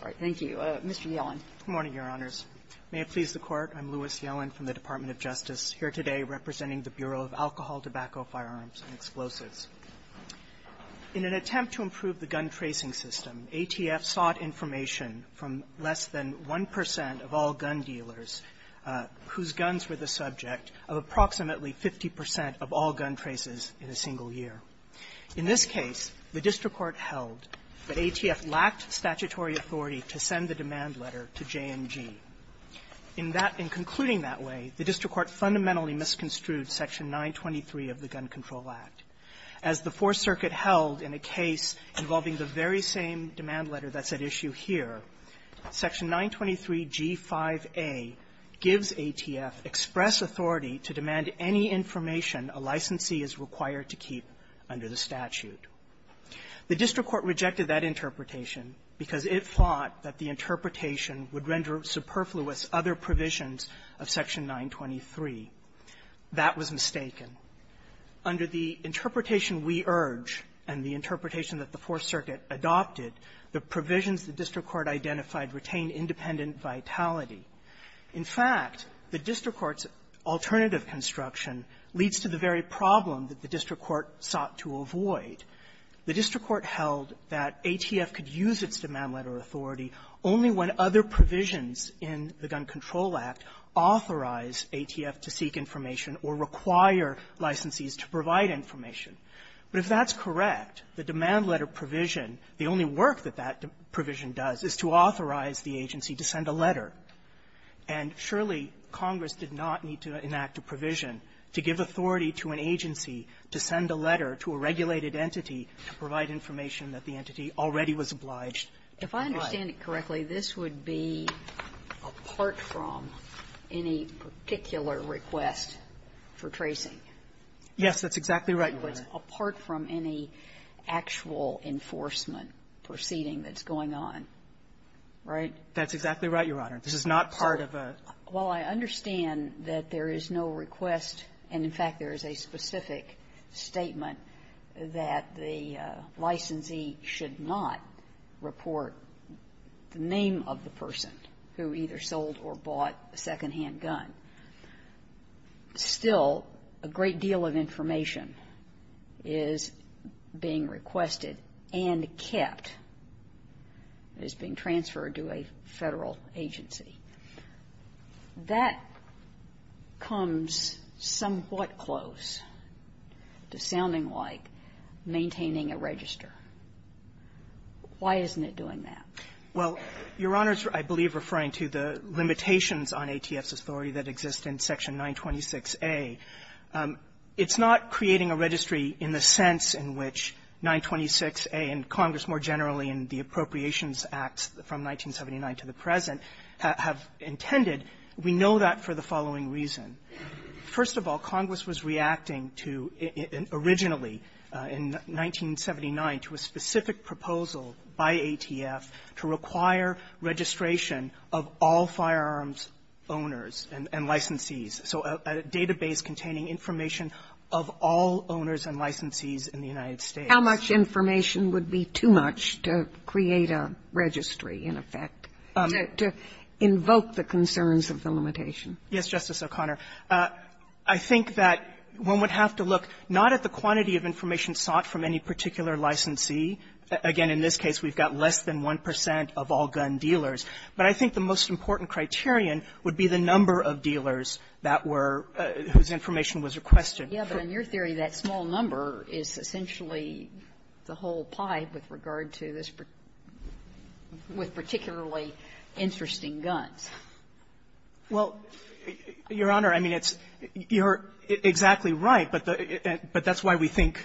All right, thank you. Mr. Yellen. Good morning, Your Honors. May it please the Court, I'm Louis Yellen from the Department of Justice, here today representing the Bureau of Alcohol, Tobacco, Firearms, and Explosives. In an attempt to improve the gun tracing system, ATF sought information from less than 1 percent of all gun dealers whose guns were the subject of approximately 50 percent of all gun traces in a single year. In this case, the district court held that ATF lacked statutory authority to send the demand letter to J&G. In that – in concluding that way, the district court fundamentally misconstrued Section 923 of the Gun Control Act. As the Fourth Circuit held in a case involving the very same demand letter that's at issue here, Section 923g5a gives ATF express authority to demand any information a licensee is required to keep under the statute. The district court rejected that interpretation because it thought that the interpretation would render superfluous other provisions of Section 923. That was mistaken. Under the interpretation we urge and the interpretation that the Fourth Circuit adopted, the provisions the district court identified retained independent vitality. In fact, the district court's alternative construction leads to the very problem that the district court sought to avoid. The district court held that ATF could use its demand letter authority only when other provisions in the Gun Control Act authorize ATF to seek information or require licensees to provide information. But if that's correct, the demand letter provision, the only work that that provision does is to authorize the agency to send a letter. And surely Congress did not need to enact a provision to give authority to an agency to send a letter to a regulated entity to provide information that the entity already was obliged to provide. Sotomayor, if I understand it correctly, this would be apart from any particular request for tracing? Yes, that's exactly right, Your Honor. But it's apart from any actual enforcement proceeding that's going on, right? That's exactly right, Your Honor. This is not part of a ---- Well, I understand that there is no request, and, in fact, there is a specific statement that the licensee should not report the name of the person who either sold or bought a second-hand gun. Still, a great deal of information is being requested and kept. It is being transferred to a Federal agency. That comes somewhat close to sounding like maintaining a register. Why isn't it doing that? Well, Your Honor's, I believe, referring to the limitations on ATF's authority that exist in Section 926a. It's not creating a registry in the sense in which 926a, and Congress more generally in the Appropriations Act from 1979 to the present, have intended. We know that for the following reason. First of all, Congress was reacting to, originally in 1979, to a specific proposal by ATF to require registration of all firearms owners and licensees, so a database containing information of all owners and licensees in the United States. How much information would be too much to create a registry, in effect, to invoke the concerns of the limitation? Yes, Justice O'Connor. I think that one would have to look not at the quantity of information sought from any particular licensee. Again, in this case, we've got less than 1 percent of all gun dealers. But I think the most important criterion would be the number of dealers that were whose information was requested. Yeah, but in your theory, that small number is essentially the whole pie with regard to this per --" with particularly interesting guns. Well, Your Honor, I mean, it's you're exactly right, but that's why we think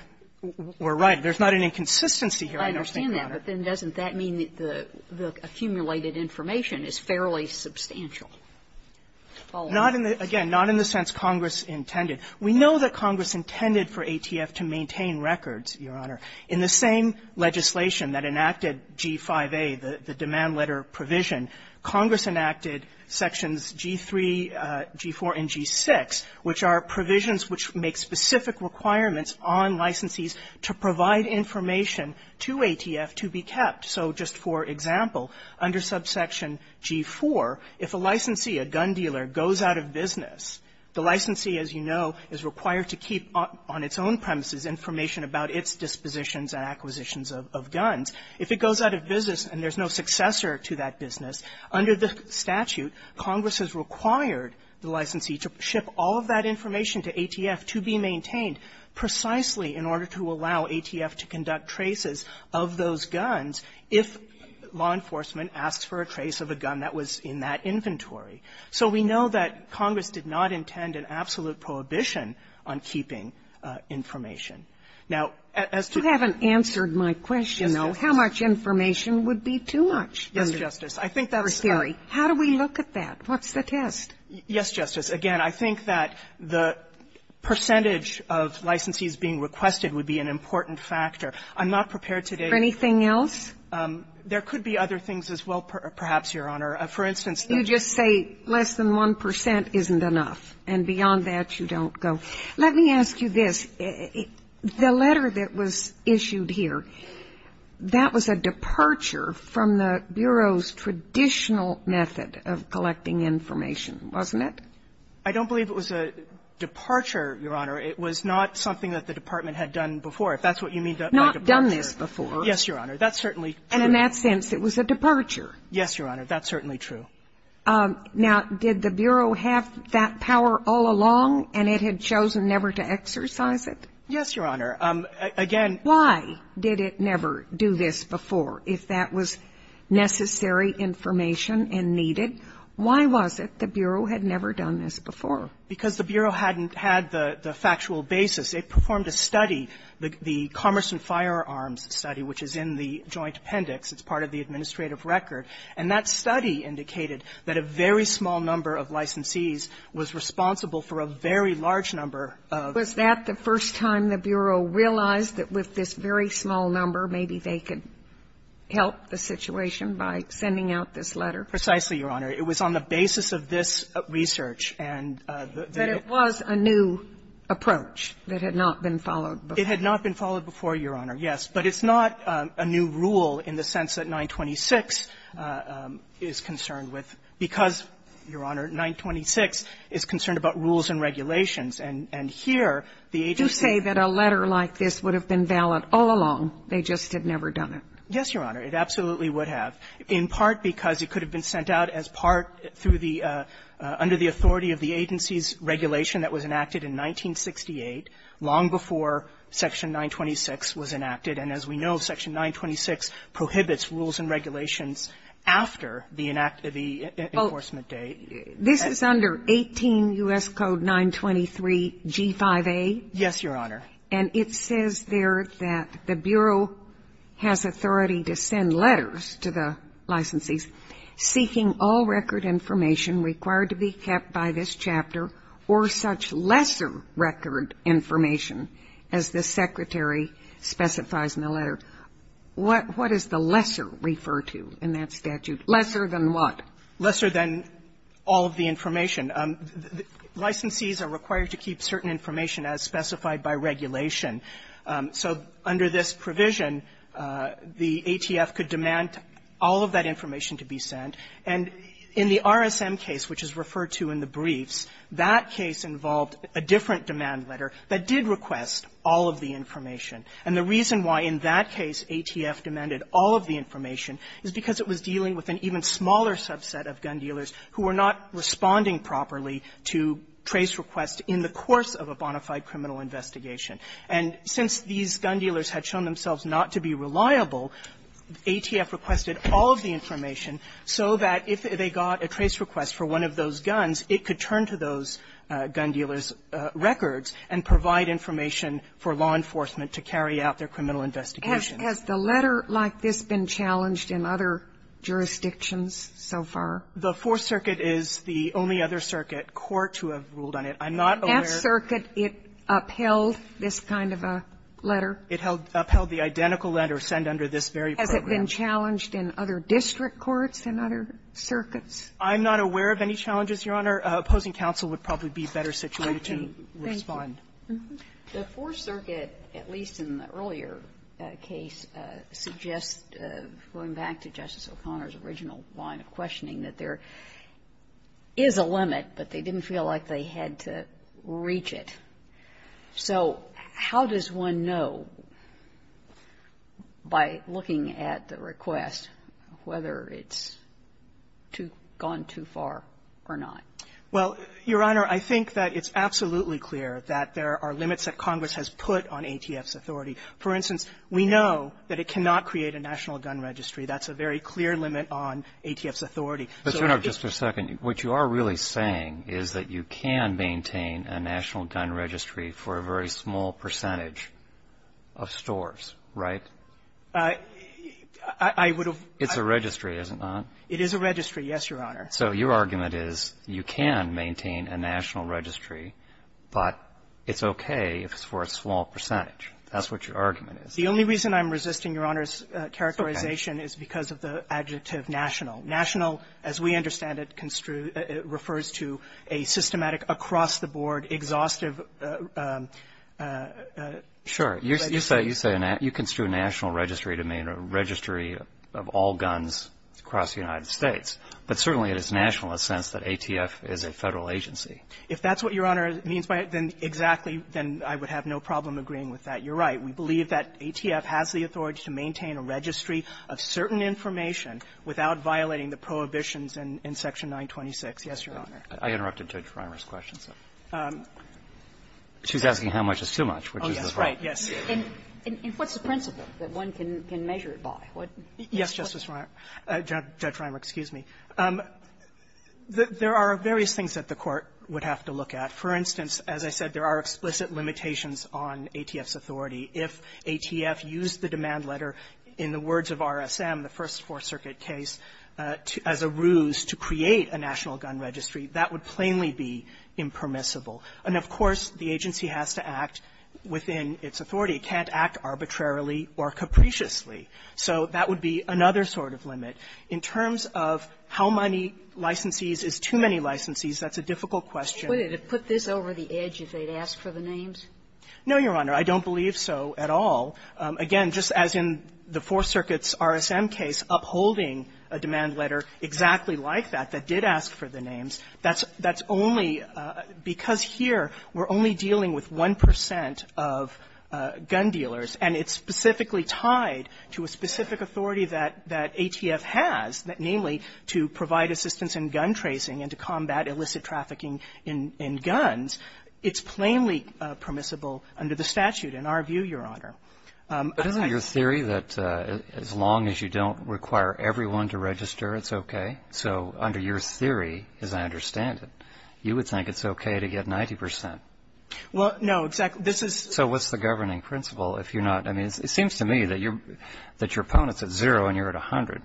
we're right. There's not an inconsistency here. I understand that. But then doesn't that mean that the accumulated information is fairly substantial? Not in the --" again, not in the sense Congress intended. We know that Congress intended for ATF to maintain records, Your Honor. In the same legislation that enacted G-5A, the demand letter provision, Congress enacted sections G-3, G-4, and G-6, which are provisions which make specific requirements on licensees to provide information to ATF to be kept. So just for example, under subsection G-4, if a licensee, a gun dealer, goes out of business, the licensee, as you know, is required to keep on its own premises information about its dispositions and acquisitions of guns. If it goes out of business and there's no successor to that business, under the statute, Congress has required the licensee to ship all of that information to ATF to be maintained precisely in order to allow ATF to conduct traces of those guns if law enforcement asks for a trace of a gun that was in that inventory. So we know that Congress did not intend an absolute prohibition on keeping information. Now, as to the other question, Justice Sotomayor, how do we look at that? What's the test? Yes, Justice. Again, I think that the percentage of licensees being requested would be an important factor. I'm not prepared to date anything else. There could be other things as well, perhaps, Your Honor. For instance, the ---- You just say less than 1 percent isn't enough, and beyond that, you don't go. Let me ask you this. The letter that was issued here, that was a departure from the Bureau's traditional method of collecting information, wasn't it? I don't believe it was a departure, Your Honor. It was not something that the Department had done before. If that's what you mean by departure ---- Not done this before. Yes, Your Honor. That's certainly true. And in that sense, it was a departure. Yes, Your Honor. That's certainly true. Now, did the Bureau have that power all along, and it had chosen never to exercise it? Yes, Your Honor. Again ---- Why did it never do this before, if that was necessary information and needed? Why was it the Bureau had never done this before? Because the Bureau hadn't had the factual basis. They performed a study, the Commerce and Firearms Study, which is in the Joint Appendix. It's part of the administrative record. And that study indicated that a very small number of licensees was responsible for a very large number of ---- Was that the first time the Bureau realized that with this very small number, maybe they could help the situation by sending out this letter? Precisely, Your Honor. It was on the basis of this research, and the ---- But it was a new approach that had not been followed before. It had not been followed before, Your Honor, yes. But it's not a new rule in the sense that 926 is concerned with, because, Your Honor, 926 is concerned about rules and regulations. And here, the agency ---- You say that a letter like this would have been valid all along. They just had never done it. Yes, Your Honor. It absolutely would have, in part because it could have been sent out as part through the ---- under the authority of the agency's regulation that was enacted in 1968, long before Section 926 was enacted. And as we know, Section 926 prohibits rules and regulations after the enact of the enforcement date. Well, this is under 18 U.S. Code 923 G5A. Yes, Your Honor. And it says there that the Bureau has authority to send letters to the licensees seeking all record information required to be kept by this chapter or such lesser record information as the Secretary specifies in the letter. What does the lesser refer to in that statute? Lesser than what? Lesser than all of the information. Licensees are required to keep certain information as specified by regulation. So under this provision, the ATF could demand all of that information to be sent. And in the RSM case, which is referred to in the briefs, that case involved a different demand letter that did request all of the information. And the reason why in that case ATF demanded all of the information is because it was dealing with an even smaller subset of gun dealers who were not responding properly to trace requests in the course of a bona fide criminal investigation. And since these gun dealers had shown themselves not to be reliable, ATF requested all of the information so that if they got a trace request for one of those guns, it could turn to those gun dealers' records and provide information for law enforcement to carry out their criminal investigation. Has the letter like this been challenged in other jurisdictions so far? The Fourth Circuit is the only other circuit court to have ruled on it. I'm not aware of the other. It upheld this kind of a letter? It upheld the identical letter sent under this very program. Has it been challenged in other district courts and other circuits? I'm not aware of any challenges, Your Honor. Opposing counsel would probably be better situated to respond. Okay. Thank you. The Fourth Circuit, at least in the earlier case, suggests, going back to Justice O'Connor's original line of questioning, that there is a limit, but they didn't feel like they had to reach it. So how does one know, by looking at the request, whether it's gone too far or not? Well, Your Honor, I think that it's absolutely clear that there are limits that Congress has put on ATF's authority. For instance, we know that it cannot create a national gun registry. That's a very clear limit on ATF's authority. But, Your Honor, just a second. What you are really saying is that you can maintain a national gun registry for a very small percentage of stores, right? I would have ---- It's a registry, is it not? It is a registry, yes, Your Honor. So your argument is you can maintain a national registry, but it's okay if it's for a small percentage. That's what your argument is. The only reason I'm resisting Your Honor's characterization is because of the adjective national. National, as we understand it, refers to a systematic, across-the-board, exhaustive registry. Sure. You say you construe a national registry to mean a registry of all guns across the United States, but certainly it is national in the sense that ATF is a Federal agency. If that's what Your Honor means by it, then exactly, then I would have no problem agreeing with that. You're right. We believe that ATF has the authority to maintain a registry of certain information without violating the prohibitions in Section 926. Yes, Your Honor. I interrupted Judge Reimer's question, so. She's asking how much is too much, which is the point. Oh, yes. Right. Yes. And what's the principle that one can measure it by? Yes, Justice Reimer. Judge Reimer, excuse me. There are various things that the Court would have to look at. For instance, as I said, there are explicit limitations on ATF's authority. If ATF used the demand letter, in the words of RSM, the First Fourth Circuit case, as a ruse to create a national gun registry, that would plainly be impermissible. And, of course, the agency has to act within its authority. It can't act arbitrarily or capriciously. So that would be another sort of limit. In terms of how many licensees is too many licensees, that's a difficult question. Would it have put this over the edge if they'd asked for the names? No, Your Honor. I don't believe so at all. Again, just as in the Fourth Circuit's RSM case, upholding a demand letter exactly like that, that did ask for the names, that's only because here we're only dealing with 1 percent of gun dealers, and it's specifically tied to a specific authority that ATF has, namely to provide assistance in gun tracing and to combat illicit trafficking in guns, it's plainly permissible under the statute, in our view, Your Honor. But isn't it your theory that as long as you don't require everyone to register, it's okay? So under your theory, as I understand it, you would think it's okay to get 90 percent. Well, no, exactly. This is So what's the governing principle if you're not It seems to me that your opponent's at zero and you're at 100.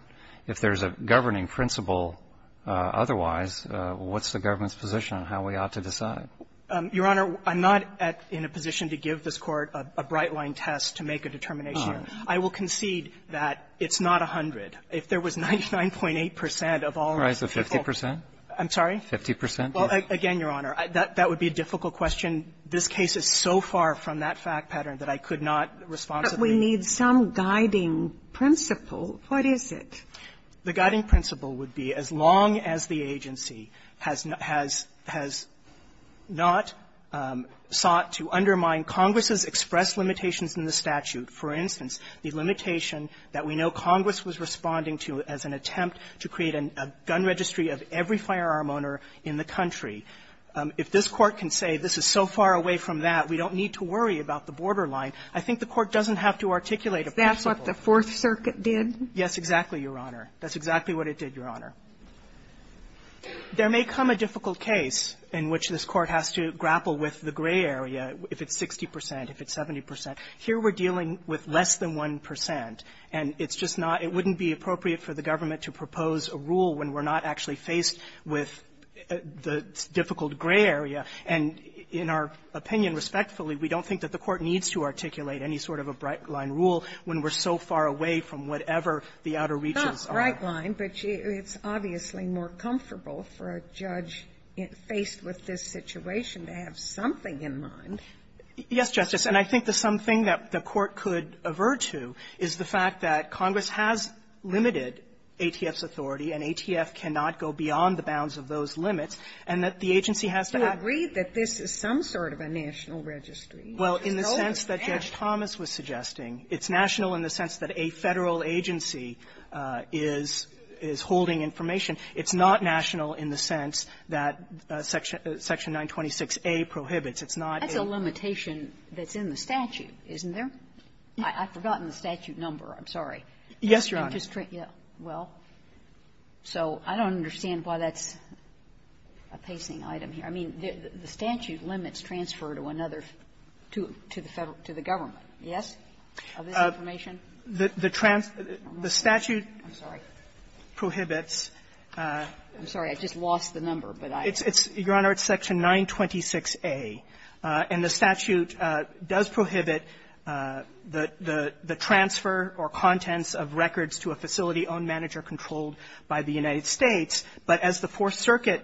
If there's a governing principle otherwise, what's the government's position on how we ought to decide? Your Honor, I'm not at or in a position to give this Court a bright-line test to make a determination. I will concede that it's not 100. If there was 99.8 percent of all of the people All right, so 50 percent? I'm sorry? 50 percent. Well, again, Your Honor, that would be a difficult question. This case is so far from that fact pattern that I could not responsibly But we need some guiding principle. What is it? The guiding principle would be as long as the agency has not sought to undermine Congress's expressed limitations in the statute, for instance, the limitation that we know Congress was responding to as an attempt to create a gun registry of every firearm owner in the country. If this Court can say this is so far away from that, we don't need to worry about the borderline, I think the Court doesn't have to articulate a principle. That's what the Fourth Circuit did? Yes, exactly, Your Honor. That's exactly what it did, Your Honor. There may come a difficult case in which this Court has to grapple with the gray area, if it's 60 percent, if it's 70 percent. Here we're dealing with less than 1 percent, and it's just not – it wouldn't be appropriate for the government to propose a rule when we're not actually faced with the difficult gray area. And in our opinion, respectfully, we don't think that the Court needs to articulate any sort of a bright-line rule when we're so far away from whatever the outer reaches are. It's not bright-line, but it's obviously more comfortable for a judge faced with this situation to have something in mind. Yes, Justice. And I think the something that the Court could avert to is the fact that Congress has limited ATF's authority, and ATF cannot go beyond the bounds of those limits, and that the agency has to act. Do you agree that this is some sort of a national registry? Well, in the sense that Judge Thomas was suggesting, it's national in the sense that a Federal agency is – is holding information. It's not national in the sense that Section – Section 926a prohibits. It's not a – That's a limitation that's in the statute, isn't there? I've forgotten the statute number. I'm sorry. Yes, Your Honor. Well, so I don't understand why that's a pacing item here. I mean, the statute limits transfer to another – to the Federal – to the government. Yes? Of this information? The – the statute prohibits – I'm sorry. I'm sorry. I just lost the number, but I – It's – it's, Your Honor, it's Section 926a. And the statute does prohibit the – the transfer or contents of records to a facility owned, managed, or controlled by the United States. But as the Fourth Circuit,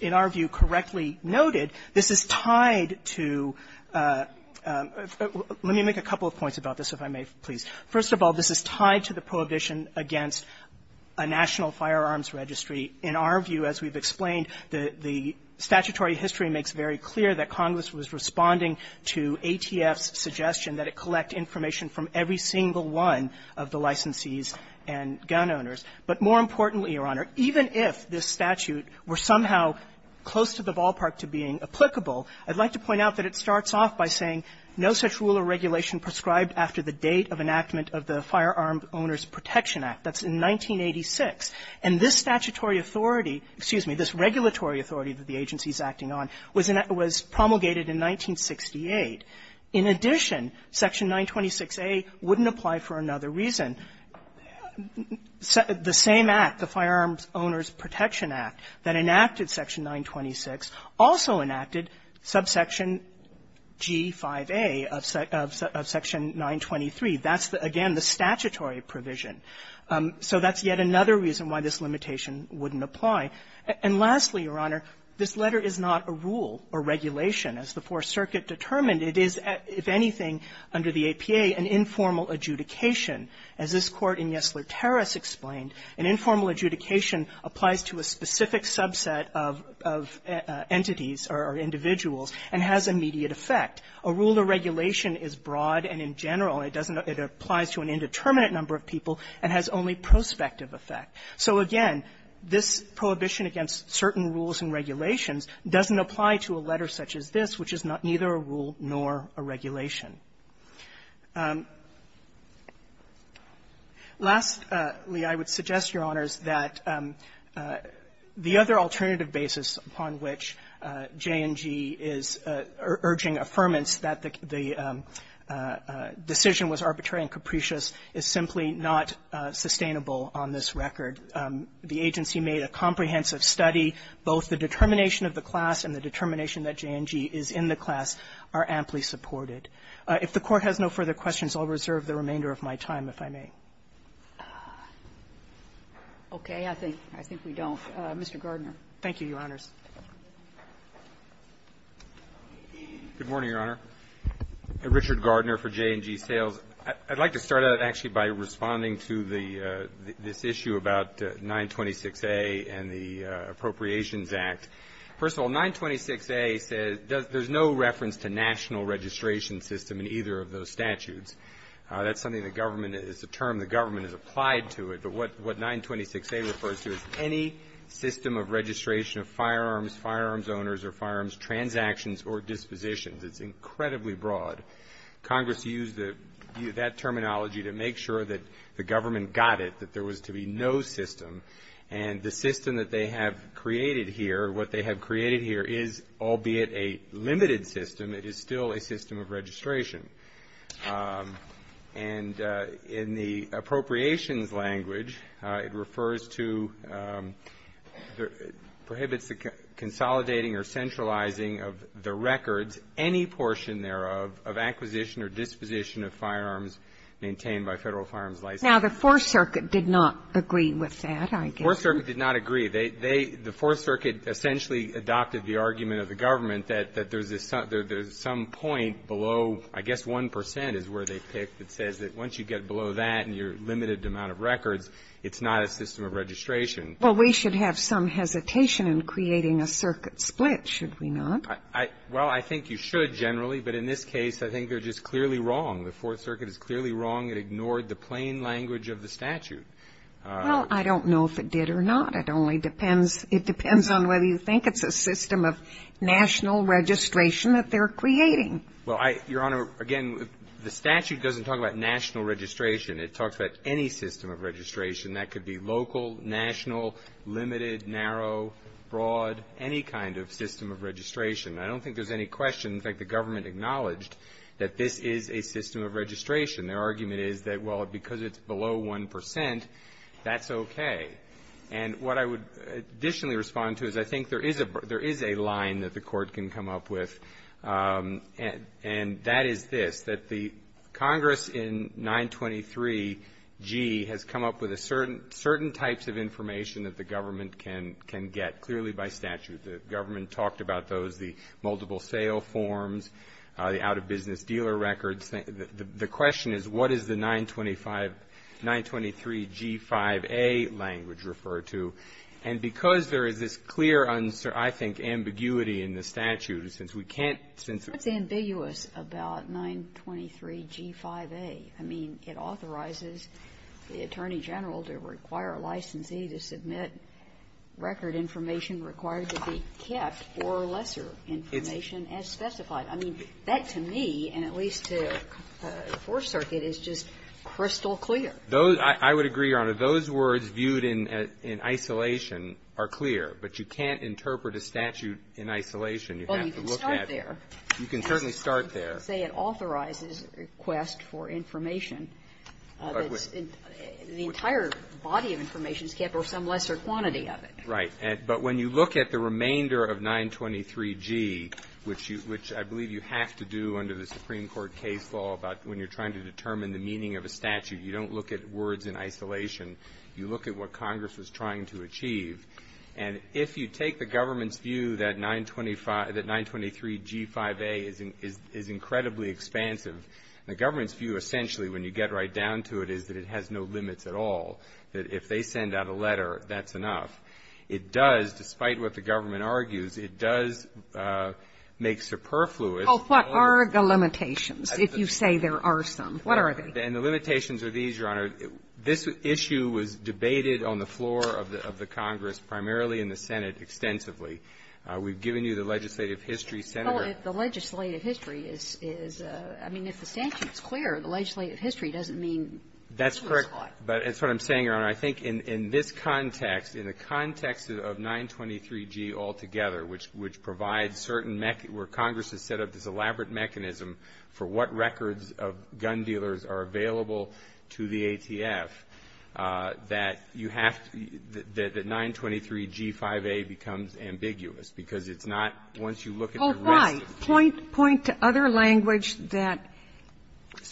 in our view, correctly noted, this is tied to – let me make a couple of points about this, if I may, please. First of all, this is tied to the prohibition against a national firearms registry. In our view, as we've explained, the – the statutory history makes very clear that Congress was responding to ATF's suggestion that it collect information from every single one of the licensees and gun owners. But more importantly, Your Honor, even if this statute were somehow close to the ballpark to being applicable, I'd like to point out that it starts off by saying, no such rule or regulation prescribed after the date of enactment of the Firearm Owners Protection Act. That's in 1986. And this statutory authority – excuse me, this regulatory authority that the agency is acting on was promulgated in 1968. In addition, Section 926a wouldn't apply for another reason. The same act, the Firearms Owners Protection Act, that enacted Section 926, also enacted subsection G5a of – of Section 923. That's, again, the statutory provision. So that's yet another reason why this limitation wouldn't apply. And lastly, Your Honor, this letter is not a rule or regulation. As the Fourth Circuit determined, it is, if anything, under the APA, an informal adjudication. As this Court in Yesler-Terrace explained, an informal adjudication applies to a specific subset of – of entities or individuals and has immediate effect. A rule or regulation is broad and in general. It doesn't – it applies to an indeterminate number of people and has only prospective effect. So, again, this prohibition against certain rules and regulations doesn't apply to a letter such as this, which is neither a rule nor a regulation. Lastly, I would suggest, Your Honors, that the other alternative basis upon which J&G is urging affirmance that the decision was arbitrary and capricious is simply not sustainable on this record. The agency made a comprehensive study. Both the determination of the class and the determination that J&G is in the class are amply supported. If the Court has no further questions, I'll reserve the remainder of my time, if I may. Ginsburg. Okay. I think – I think we don't. Mr. Gardner. Thank you, Your Honors. Good morning, Your Honor. Richard Gardner for J&G Sales. I'd like to start out, actually, by responding to the – this issue about 926a and the Appropriations Act. First of all, 926a says – there's no reference to national registration system in either of those statutes. That's something the government – it's a term the government has applied to it. But what 926a refers to is any system of registration of firearms, firearms owners, or firearms transactions or dispositions. It's incredibly broad. Congress used that terminology to make sure that the government got it, that there was to be no system. And the system that they have created here, what they have created here is, albeit a limited system, it is still a system of registration. And in the appropriations language, it refers to – prohibits the consolidating or centralizing of the records, any portion thereof, of acquisition or disposition of firearms maintained by Federal firearms license. Now, the Fourth Circuit did not agree with that. The Fourth Circuit did not agree. They – the Fourth Circuit essentially adopted the argument of the government that there's some point below – I guess 1 percent is where they picked. It says that once you get below that in your limited amount of records, it's not a system of registration. Well, we should have some hesitation in creating a circuit split, should we not? Well, I think you should generally. But in this case, I think they're just clearly wrong. The Fourth Circuit is clearly wrong. It ignored the plain language of the statute. Well, I don't know if it did or not. It only depends – it depends on whether you think it's a system of national registration that they're creating. Well, I – Your Honor, again, the statute doesn't talk about national registration. It talks about any system of registration. That could be local, national, limited, narrow, broad, any kind of system of registration. I don't think there's any question. In fact, the government acknowledged that this is a system of registration. Their argument is that, well, because it's below 1 percent, that's okay. And what I would additionally respond to is I think there is a – there is a line that the Court can come up with, and that is this, that the Congress in 923G has come up with a certain – certain types of information that the government can – can get clearly by statute. The government talked about those, the multiple sale forms, the out-of-business dealer records. The question is what is the 925 – 923G5A language referred to? And because there is this clear, I think, ambiguity in the statute, since we can't – since the – What's ambiguous about 923G5A? I mean, it authorizes the Attorney General to require a licensee to submit record information required to be kept or lesser information as specified. I mean, that to me, and at least to the Fourth Circuit, is just crystal clear. Those – I would agree, Your Honor. Those words viewed in isolation are clear. But you can't interpret a statute in isolation. You'd have to look at it. Well, you can start there. You can certainly start there. Say it authorizes a request for information that's – the entire body of information is kept or some lesser quantity of it. Right. But when you look at the remainder of 923G, which you – which I believe you have to do under the Supreme Court case law about when you're trying to determine the meaning of a statute, you don't look at words in isolation. You look at what Congress was trying to achieve. And if you take the government's view that 925 – that 923G5A is incredibly expansive, the government's view essentially, when you get right down to it, is that it has no limits at all, that if they send out a letter, that's enough. It does, despite what the government argues, it does make superfluous. Oh, what are the limitations, if you say there are some? What are they? And the limitations are these, Your Honor. This issue was debated on the floor of the Congress, primarily in the Senate, extensively. We've given you the legislative history, Senator. Well, if the legislative history is – I mean, if the statute's clear, the legislative history doesn't mean this was caught. That's correct. But it's what I'm saying, Your Honor. I think in this context, in the context of 923G altogether, which provides certain – where Congress has set up this elaborate mechanism for what records of gun dealers are available to the ATF, that you have to – that 923G5A becomes ambiguous, because it's not – once you look at the rest of the case. Oh, right. Point to other language that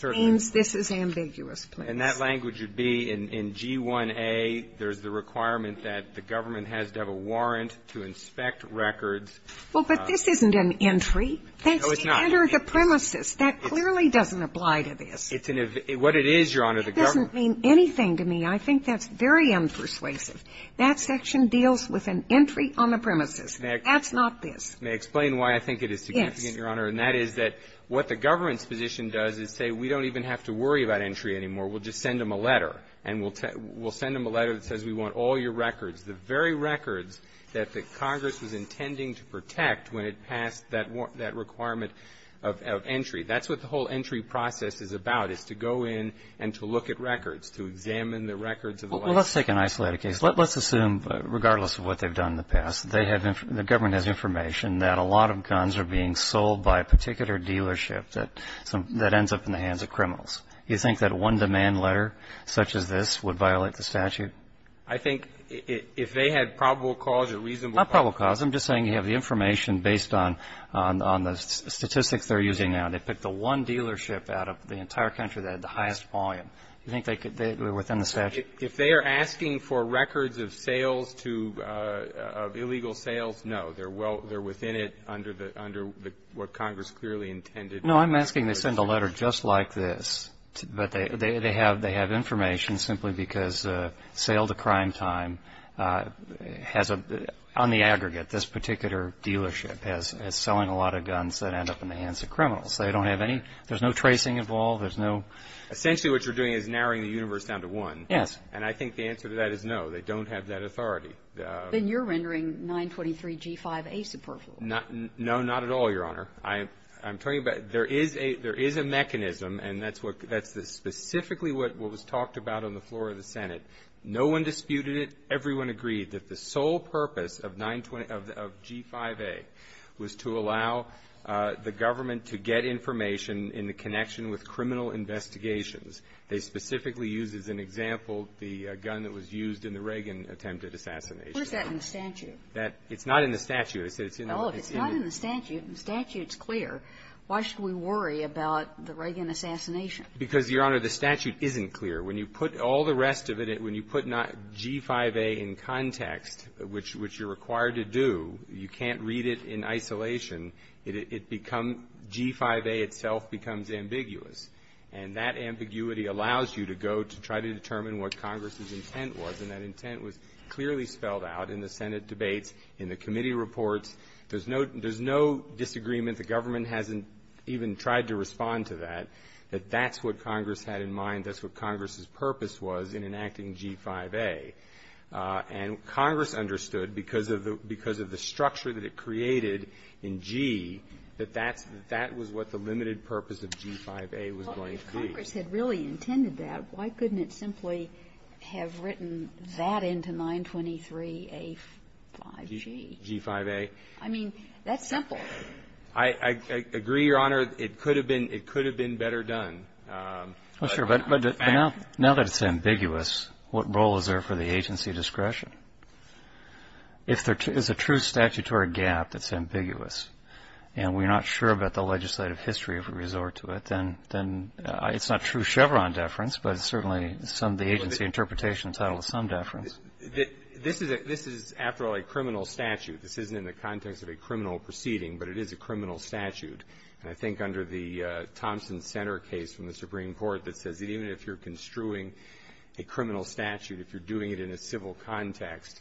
means this is ambiguous, please. And that language would be, in G1A, there's the requirement that the government has to have a warrant to inspect records. Well, but this isn't an entry. No, it's not. That's to enter the premises. That clearly doesn't apply to this. It's an – what it is, Your Honor, the government – It doesn't mean anything to me. I think that's very unpersuasive. That section deals with an entry on the premises. That's not this. May I explain why I think it is significant, Your Honor? Yes. And that is that what the government's position does is say, we don't even have to worry about entry anymore. We'll just send them a letter. And we'll send them a letter that says, we want all your records, the very records that the Congress was intending to protect when it passed that requirement of entry. That's what the whole entry process is about, is to go in and to look at records, to examine the records of the license. Well, let's take an isolated case. Let's assume, regardless of what they've done in the past, they have – the government has information that a lot of guns are being sold by a particular dealership that ends up in the hands of criminals. Do you think that one demand letter such as this would violate the statute? I think if they had probable cause or reasonable cause – Not probable cause. I'm just saying you have the information based on the statistics they're using now. They picked the one dealership out of the entire country that had the highest volume. Do you think they could – they were within the statute? If they are asking for records of sales to – of illegal sales, no. They're well – they're within it under the – under what Congress clearly intended to protect. No, I'm asking they send a letter just like this, but they have – they have information simply because sale to crime time has a – on the aggregate, this particular dealership is selling a lot of guns that end up in the hands of criminals. They don't have any – there's no tracing involved. There's no – Essentially, what you're doing is narrowing the universe down to one. Yes. And I think the answer to that is no. They don't have that authority. Then you're rendering 923 G5A superfluous. Not – no, not at all, Your Honor. I'm talking about – there is a – there is a mechanism, and that's what – that's specifically what was talked about on the floor of the Senate. No one disputed it. Everyone agreed that the sole purpose of 920 – of G5A was to allow the government to get information in the connection with criminal investigations. They specifically used as an example the gun that was used in the Reagan attempted assassination. Where's that in the statute? That – it's not in the statute. It's in the – Well, if it's not in the statute, and the statute's clear, why should we worry about the Reagan assassination? Because, Your Honor, the statute isn't clear. When you put all the rest of it – when you put G5A in context, which you're required to do, you can't read it in isolation. It becomes – G5A itself becomes ambiguous. And that ambiguity allows you to go to try to determine what Congress's intent was, and that intent was clearly spelled out in the Senate debates, in the committee reports. There's no – there's no disagreement. The government hasn't even tried to respond to that, that that's what Congress had in mind. That's what Congress's purpose was in enacting G5A. And Congress understood, because of the – because of the structure that it created in G, that that's – that was what the limited purpose of G5A was going to be. Well, if Congress had really intended that, why couldn't it simply have written that into 923A5G? G5A. I mean, that's simple. I agree, Your Honor. It could have been – it could have been better done. Well, sure. But now that it's ambiguous, what role is there for the agency discretion? If there is a true statutory gap that's ambiguous, and we're not sure about the legislative history if we resort to it, then it's not true Chevron deference, but it's certainly some of the agency interpretation title is some deference. This is – this is, after all, a criminal statute. This isn't in the context of a criminal proceeding, but it is a criminal statute. And I think under the Thompson Center case from the Supreme Court that says that even if you're construing a criminal statute, if you're doing it in a civil context,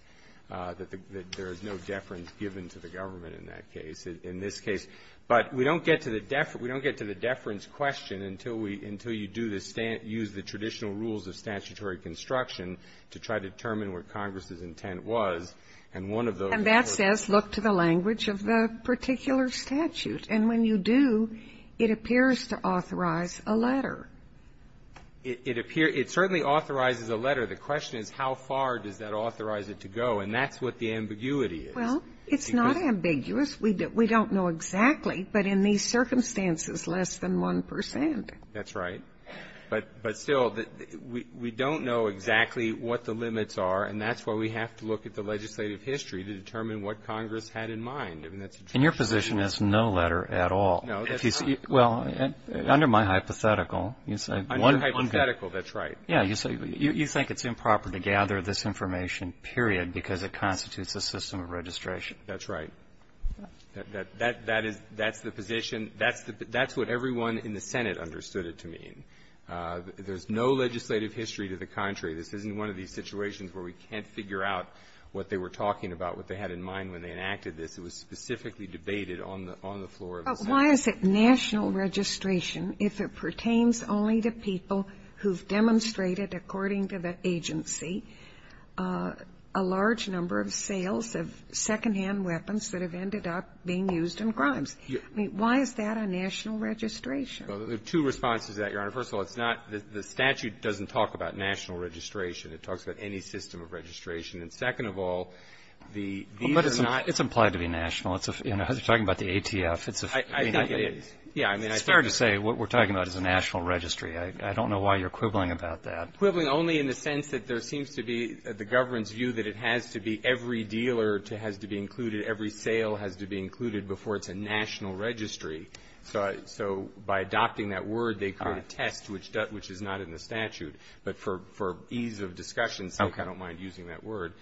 that there is no deference given to the government in that case – in this case. But we don't get to the – we don't get to the deference question until we – until you do the – use the traditional rules of statutory construction to try to determine what Congress's intent was. And one of those – And that says look to the language of the particular statute. And when you do, it appears to authorize a letter. It appears – it certainly authorizes a letter. The question is how far does that authorize it to go. And that's what the ambiguity is. Well, it's not ambiguous. We don't know exactly, but in these circumstances, less than 1 percent. That's right. But still, we don't know exactly what the limits are, and that's why we have to look at the legislative history to determine what Congress had in mind. I mean, that's a traditional rule. And your position is no letter at all. No, that's not – Well, under my hypothetical, you say one – Under hypothetical, that's right. Yeah. You say you think it's improper to gather this information, period, because it constitutes a system of registration. That's right. That's the position. That's what everyone in the Senate understood it to mean. There's no legislative history to the contrary. This isn't one of these situations where we can't figure out what they were talking about, what they had in mind when they enacted this. It was specifically debated on the floor of the Senate. But why is it national registration if it pertains only to people who've demonstrated, according to the agency, a large number of sales of secondhand weapons that have ended up being used in crimes? I mean, why is that a national registration? Well, there are two responses to that, Your Honor. First of all, it's not – the statute doesn't talk about national registration. It talks about any system of registration. And second of all, the – Well, but it's not – it's implied to be national. It's a – you know, you're talking about the ATF. It's a – I think it is. Yeah. I mean, I think it is. It's fair to say what we're talking about is a national registry. I don't know why you're quibbling about that. I'm quibbling only in the sense that there seems to be the government's view that it has to be every dealer has to be included, every sale has to be included before it's a national registry. So by adopting that word, they create a test which is not in the statute. But for ease of discussion, I don't mind using that word.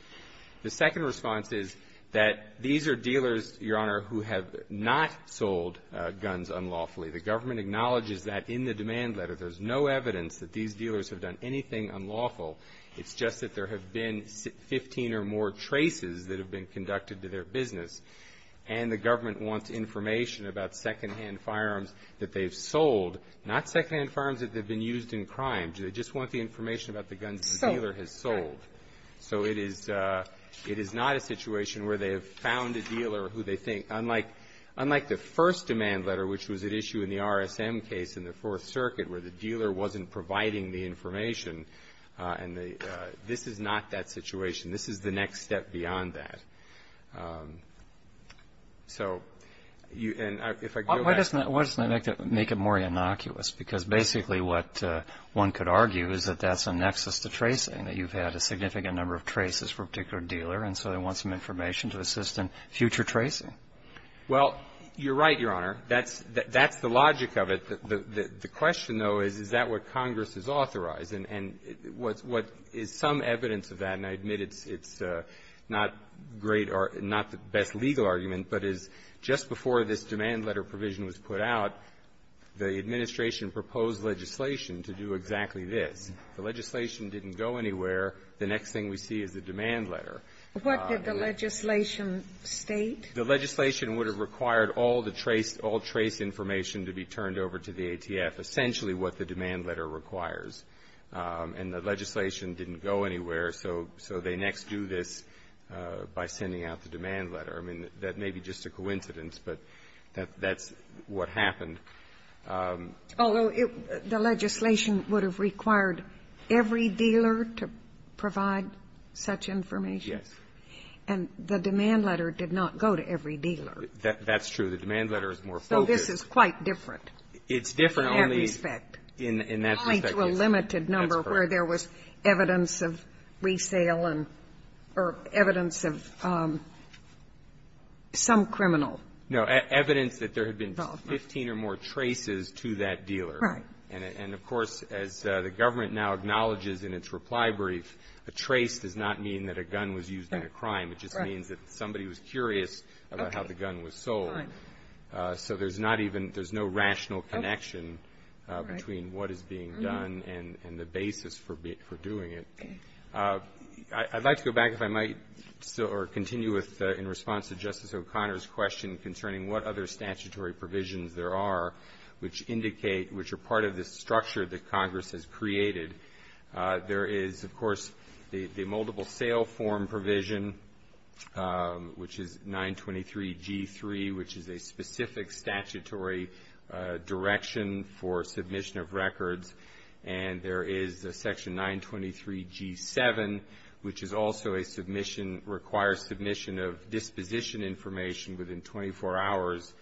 The second response is that these are dealers, Your Honor, who have not sold guns unlawfully. The government acknowledges that in the demand letter. There's no evidence that these dealers have done anything unlawful. It's just that there have been 15 or more traces that have been conducted to their business, and the government wants information about secondhand firearms that they've sold, not secondhand firearms that they've been used in crime. They just want the information about the guns the dealer has sold. So it is – it is not a situation where they have found a dealer who they think – unlike the first demand letter, which was at issue in the RSM case in the Fourth Circuit, where the dealer wasn't providing the information, and the – this is not that situation. This is the next step beyond that. So you – and if I go back to the other question. Why doesn't that make it more innocuous? Because basically what one could argue is that that's a nexus to tracing, that you've had a significant number of traces for a particular dealer, and so they want some information to assist in future tracing. Well, you're right, Your Honor. That's – that's the logic of it. The question, though, is, is that what Congress has authorized? And what's – what is some evidence of that, and I admit it's not great or not the best legal argument, but is just before this demand letter provision was put out, the Administration proposed legislation to do exactly this. The legislation didn't go anywhere. The next thing we see is the demand letter. What did the legislation state? The legislation would have required all the trace – all trace information to be turned over to the ATF, essentially what the demand letter requires. And the legislation didn't go anywhere, so – so they next do this by sending out the demand letter. I mean, that may be just a coincidence, but that's what happened. Although it – the legislation would have required every dealer to provide such information? Yes. And the demand letter did not go to every dealer. That's true. The demand letter is more focused. So this is quite different. It's different only in that respect. In that respect, yes. Only to a limited number where there was evidence of resale and – or evidence of some criminal involvement. No, evidence that there had been 15 or more traces to that dealer. Right. And of course, as the government now acknowledges in its reply brief, a trace does not mean that a gun was used in a crime. It just means that somebody was curious about how the gun was sold. Right. So there's not even – there's no rational connection between what is being done and the basis for doing it. I'd like to go back, if I might, or continue with – in response to Justice O'Connor's question concerning what other statutory provisions there are which indicate – which are part of this structure that Congress has created. There is, of course, the multiple sale form provision, which is 923 G3, which is a specific statutory direction for submission of records. And there is Section 923 G7, which is also a submission – requires submission of disposition information within 24 hours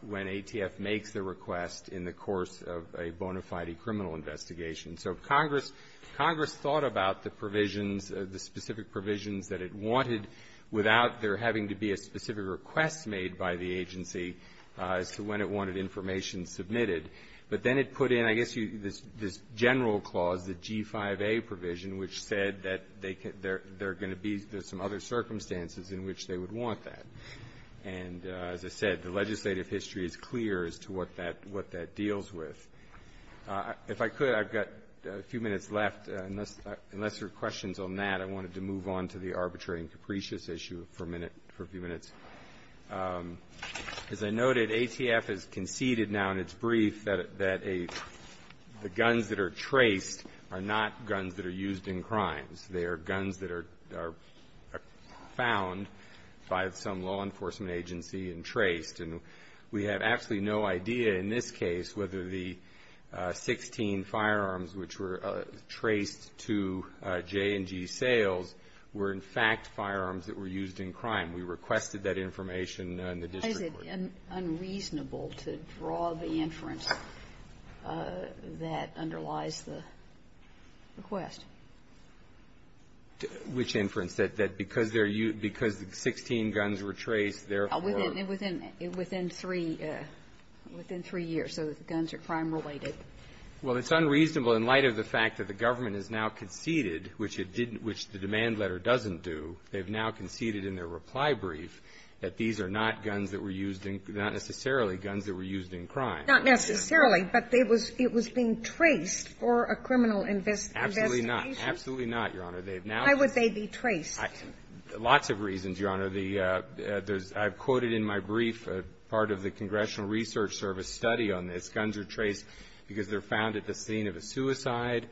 when ATF makes the request in the course of a bona fide criminal investigation. So Congress – Congress thought about the provisions – the specific provisions that it wanted without there having to be a specific request made by the agency as to when it wanted information submitted. But then it put in, I guess, this general clause, the G5A provision, which said that they're going to be – there's some other circumstances in which they would want that. And as I said, the legislative history is clear as to what that – what that deals with. If I could, I've got a few minutes left. Unless there are questions on that, I wanted to move on to the arbitrary and capricious issue for a minute – for a few minutes. As I noted, ATF has conceded now in its brief that a – the guns that are traced are not guns that are used in crimes. They are guns that are – are found by some law enforcement agency and traced. And we have absolutely no idea in this case whether the 16 firearms which were traced to J&G sales were, in fact, firearms that were used in crime. We requested that information in the district court. Is it unreasonable to draw the inference that underlies the request? Which inference? That because they're used – because the 16 guns were traced, therefore – Within – within – within three – within three years. So the guns are crime-related. Well, it's unreasonable in light of the fact that the government has now conceded, which it didn't – which the demand letter doesn't do. They've now conceded in their reply brief that these are not guns that were used in – not necessarily guns that were used in crime. Not necessarily, but they was – it was being traced for a criminal investigation. Absolutely not. Absolutely not, Your Honor. They've now – Why would they be traced? Lots of reasons, Your Honor. The – there's – I've quoted in my brief part of the Congressional Research Service study on this. Guns are traced because they're found at the scene of a suicide.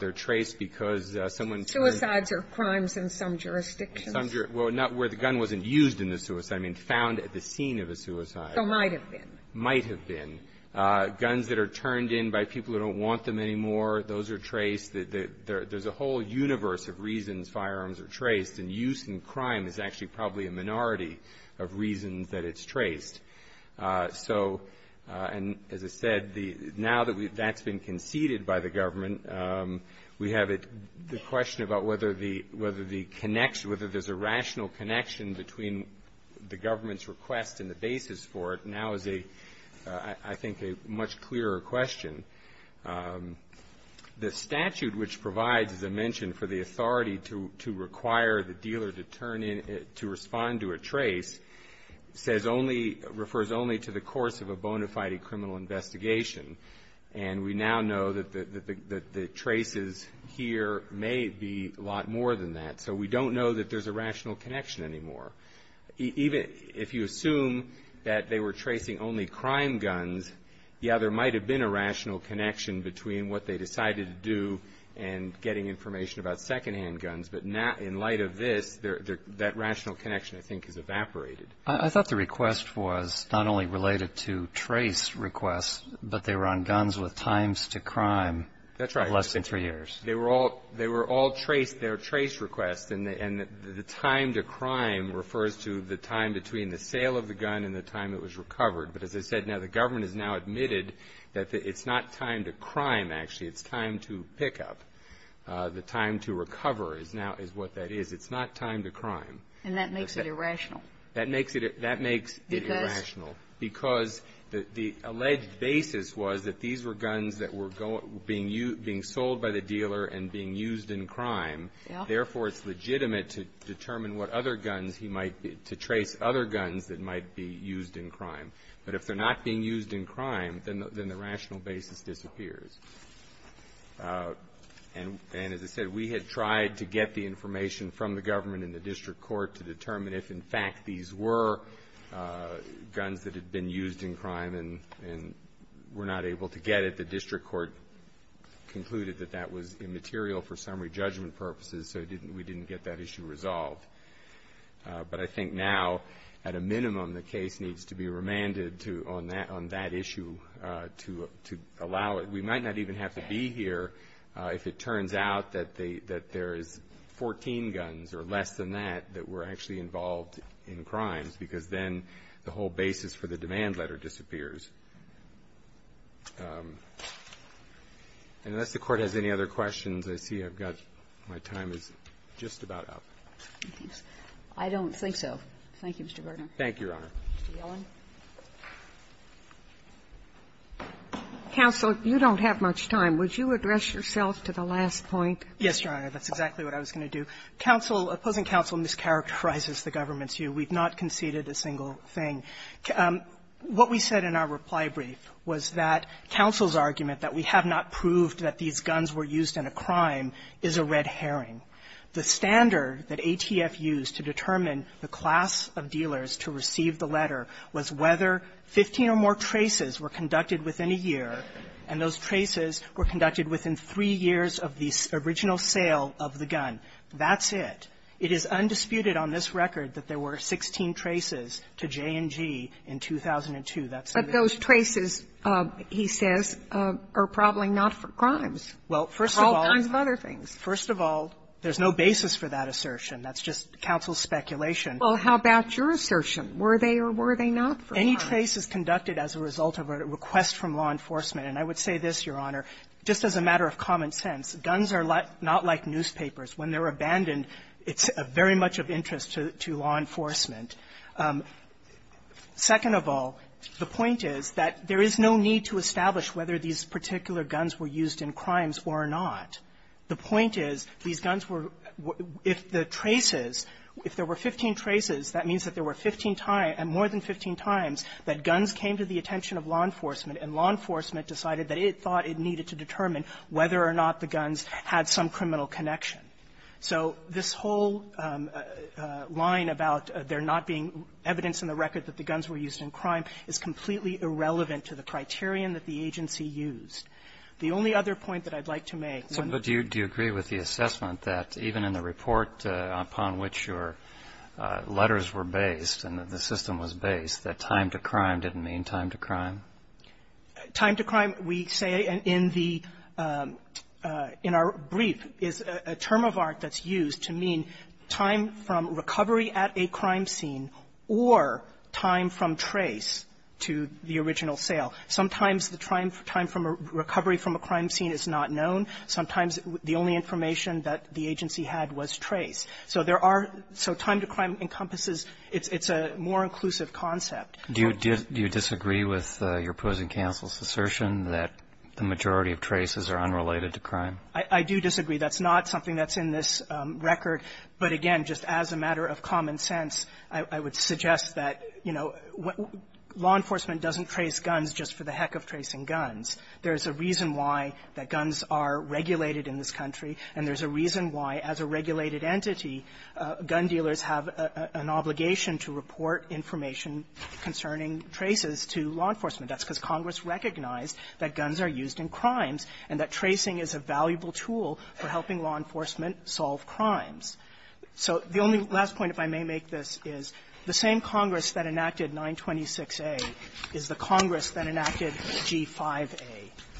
They're traced because someone turned – Suicides are crimes in some jurisdictions. Some – well, not where the gun wasn't used in the suicide. I mean found at the scene of a suicide. So might have been. Might have been. Guns that are turned in by people who don't want them anymore, those are traced. There's a whole universe of reasons firearms are traced. And use in crime is actually probably a minority of reasons that it's traced. So – and as I said, the – now that we – that's been conceded by the government, we have it – the question about whether the – whether the connection – whether there's a rational connection between the government's request and the basis for it now is a – I think a much clearer question. The statute which provides, as I mentioned, for the authority to require the dealer to turn in – to respond to a trace says only – refers only to the course of a bona fide criminal investigation. And we now know that the traces here may be a lot more than that. So we don't know that there's a rational connection anymore. Even if you assume that they were tracing only crime guns, yeah, there might have been a rational connection between what they decided to do and getting information about secondhand guns. But now, in light of this, that rational connection, I think, has evaporated. I thought the request was not only related to trace requests, but they were on guns with times to crime of less than three years. They were all – they were all trace – they were trace requests. And the time to crime refers to the time between the sale of the gun and the time it was recovered. But as I said, now the government has now admitted that it's not time to crime, actually. It's time to pick up. The time to recover is now – is what that is. It's not time to crime. And that makes it irrational. That makes it – that makes it irrational. Because the alleged basis was that these were guns that were going – being used – being sold by the dealer and being used in crime. Therefore, it's legitimate to determine what other guns he might be – to trace other guns that might be used in crime. But if they're not being used in crime, then the rational basis disappears. And as I said, we had tried to get the information from the government and the district court to determine if, in fact, these were guns that had been used in crime and were not able to get it. The district court concluded that that was immaterial for summary judgment purposes, so we didn't get that issue resolved. But I think now, at a minimum, the case needs to be remanded to – on that issue to allow it. We might not even have to be here if it turns out that they – that there's 14 guns or less than that that were actually involved in crimes. Because then the whole basis for the demand letter disappears. Unless the Court has any other questions, I see I've got – my time is just about up. I don't think so. Thank you, Mr. Berger. Thank you, Your Honor. Mr. Yellen. Counsel, you don't have much time. Would you address yourself to the last point? Yes, Your Honor. That's exactly what I was going to do. Counsel – opposing counsel mischaracterizes the government's view. We've not conceded a single thing. What we said in our reply brief was that counsel's argument that we have not proved that these guns were used in a crime is a red herring. The standard that ATF used to determine the class of dealers to receive the letter was whether 15 or more traces were conducted within a year, and those traces were conducted within three years of the original sale of the gun. That's it. It is undisputed on this record that there were 16 traces to J&G in 2002. But those traces, he says, are probably not for crimes. Well, first of all – All kinds of other things. First of all, there's no basis for that assertion. That's just counsel's speculation. Well, how about your assertion? Were they or were they not for crimes? Any trace is conducted as a result of a request from law enforcement. And I would say this, Your Honor. Just as a matter of common sense, guns are not like newspapers. When they're abandoned, it's very much of interest to law enforcement. Second of all, the point is that there is no need to establish whether these particular guns were used in crimes or not. The point is these guns were – if the traces – if there were 15 traces, that means that there were 15 – more than 15 times that guns came to the attention of law enforcement, and law enforcement decided that it thought it needed to determine whether or not the guns had some criminal connection. So this whole line about there not being evidence in the record that the guns were used in crime is completely irrelevant to the criterion that the agency used. The only other point that I'd like to make – Do you agree with the assessment that even in the report upon which your letters were based and the system was based, that time to crime didn't mean time to crime? Time to crime, we say in the – in our brief, is a term of art that's used to mean time from recovery at a crime scene or time from trace to the original sale. Sometimes the time from recovery from a crime scene is not known. Sometimes the only information that the agency had was trace. So there are – so time to crime encompasses – it's a more inclusive concept. Do you disagree with your opposing counsel's assertion that the majority of traces are unrelated to crime? I do disagree. That's not something that's in this record. But again, just as a matter of common sense, I would suggest that, you know, law enforcement doesn't trace guns just for the heck of tracing guns. There's a reason why that guns are regulated in this country, and there's a reason why, as a regulated entity, gun dealers have an obligation to report information concerning traces to law enforcement. That's because Congress recognized that guns are used in crimes and that tracing is a valuable tool for helping law enforcement solve crimes. So the only last point, if I may make this, is the same Congress that enacted 926A is the Congress that enacted 925G5A.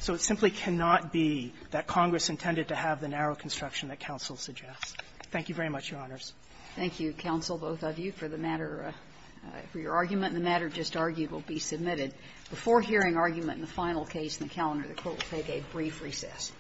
So it simply cannot be that Congress intended to have the narrow construction that counsel suggests. Thank you very much, Your Honors. Thank you, counsel, both of you, for the matter – for your argument. And the matter just argued will be submitted. Before hearing argument in the final case in the calendar, the Court will take a brief recess.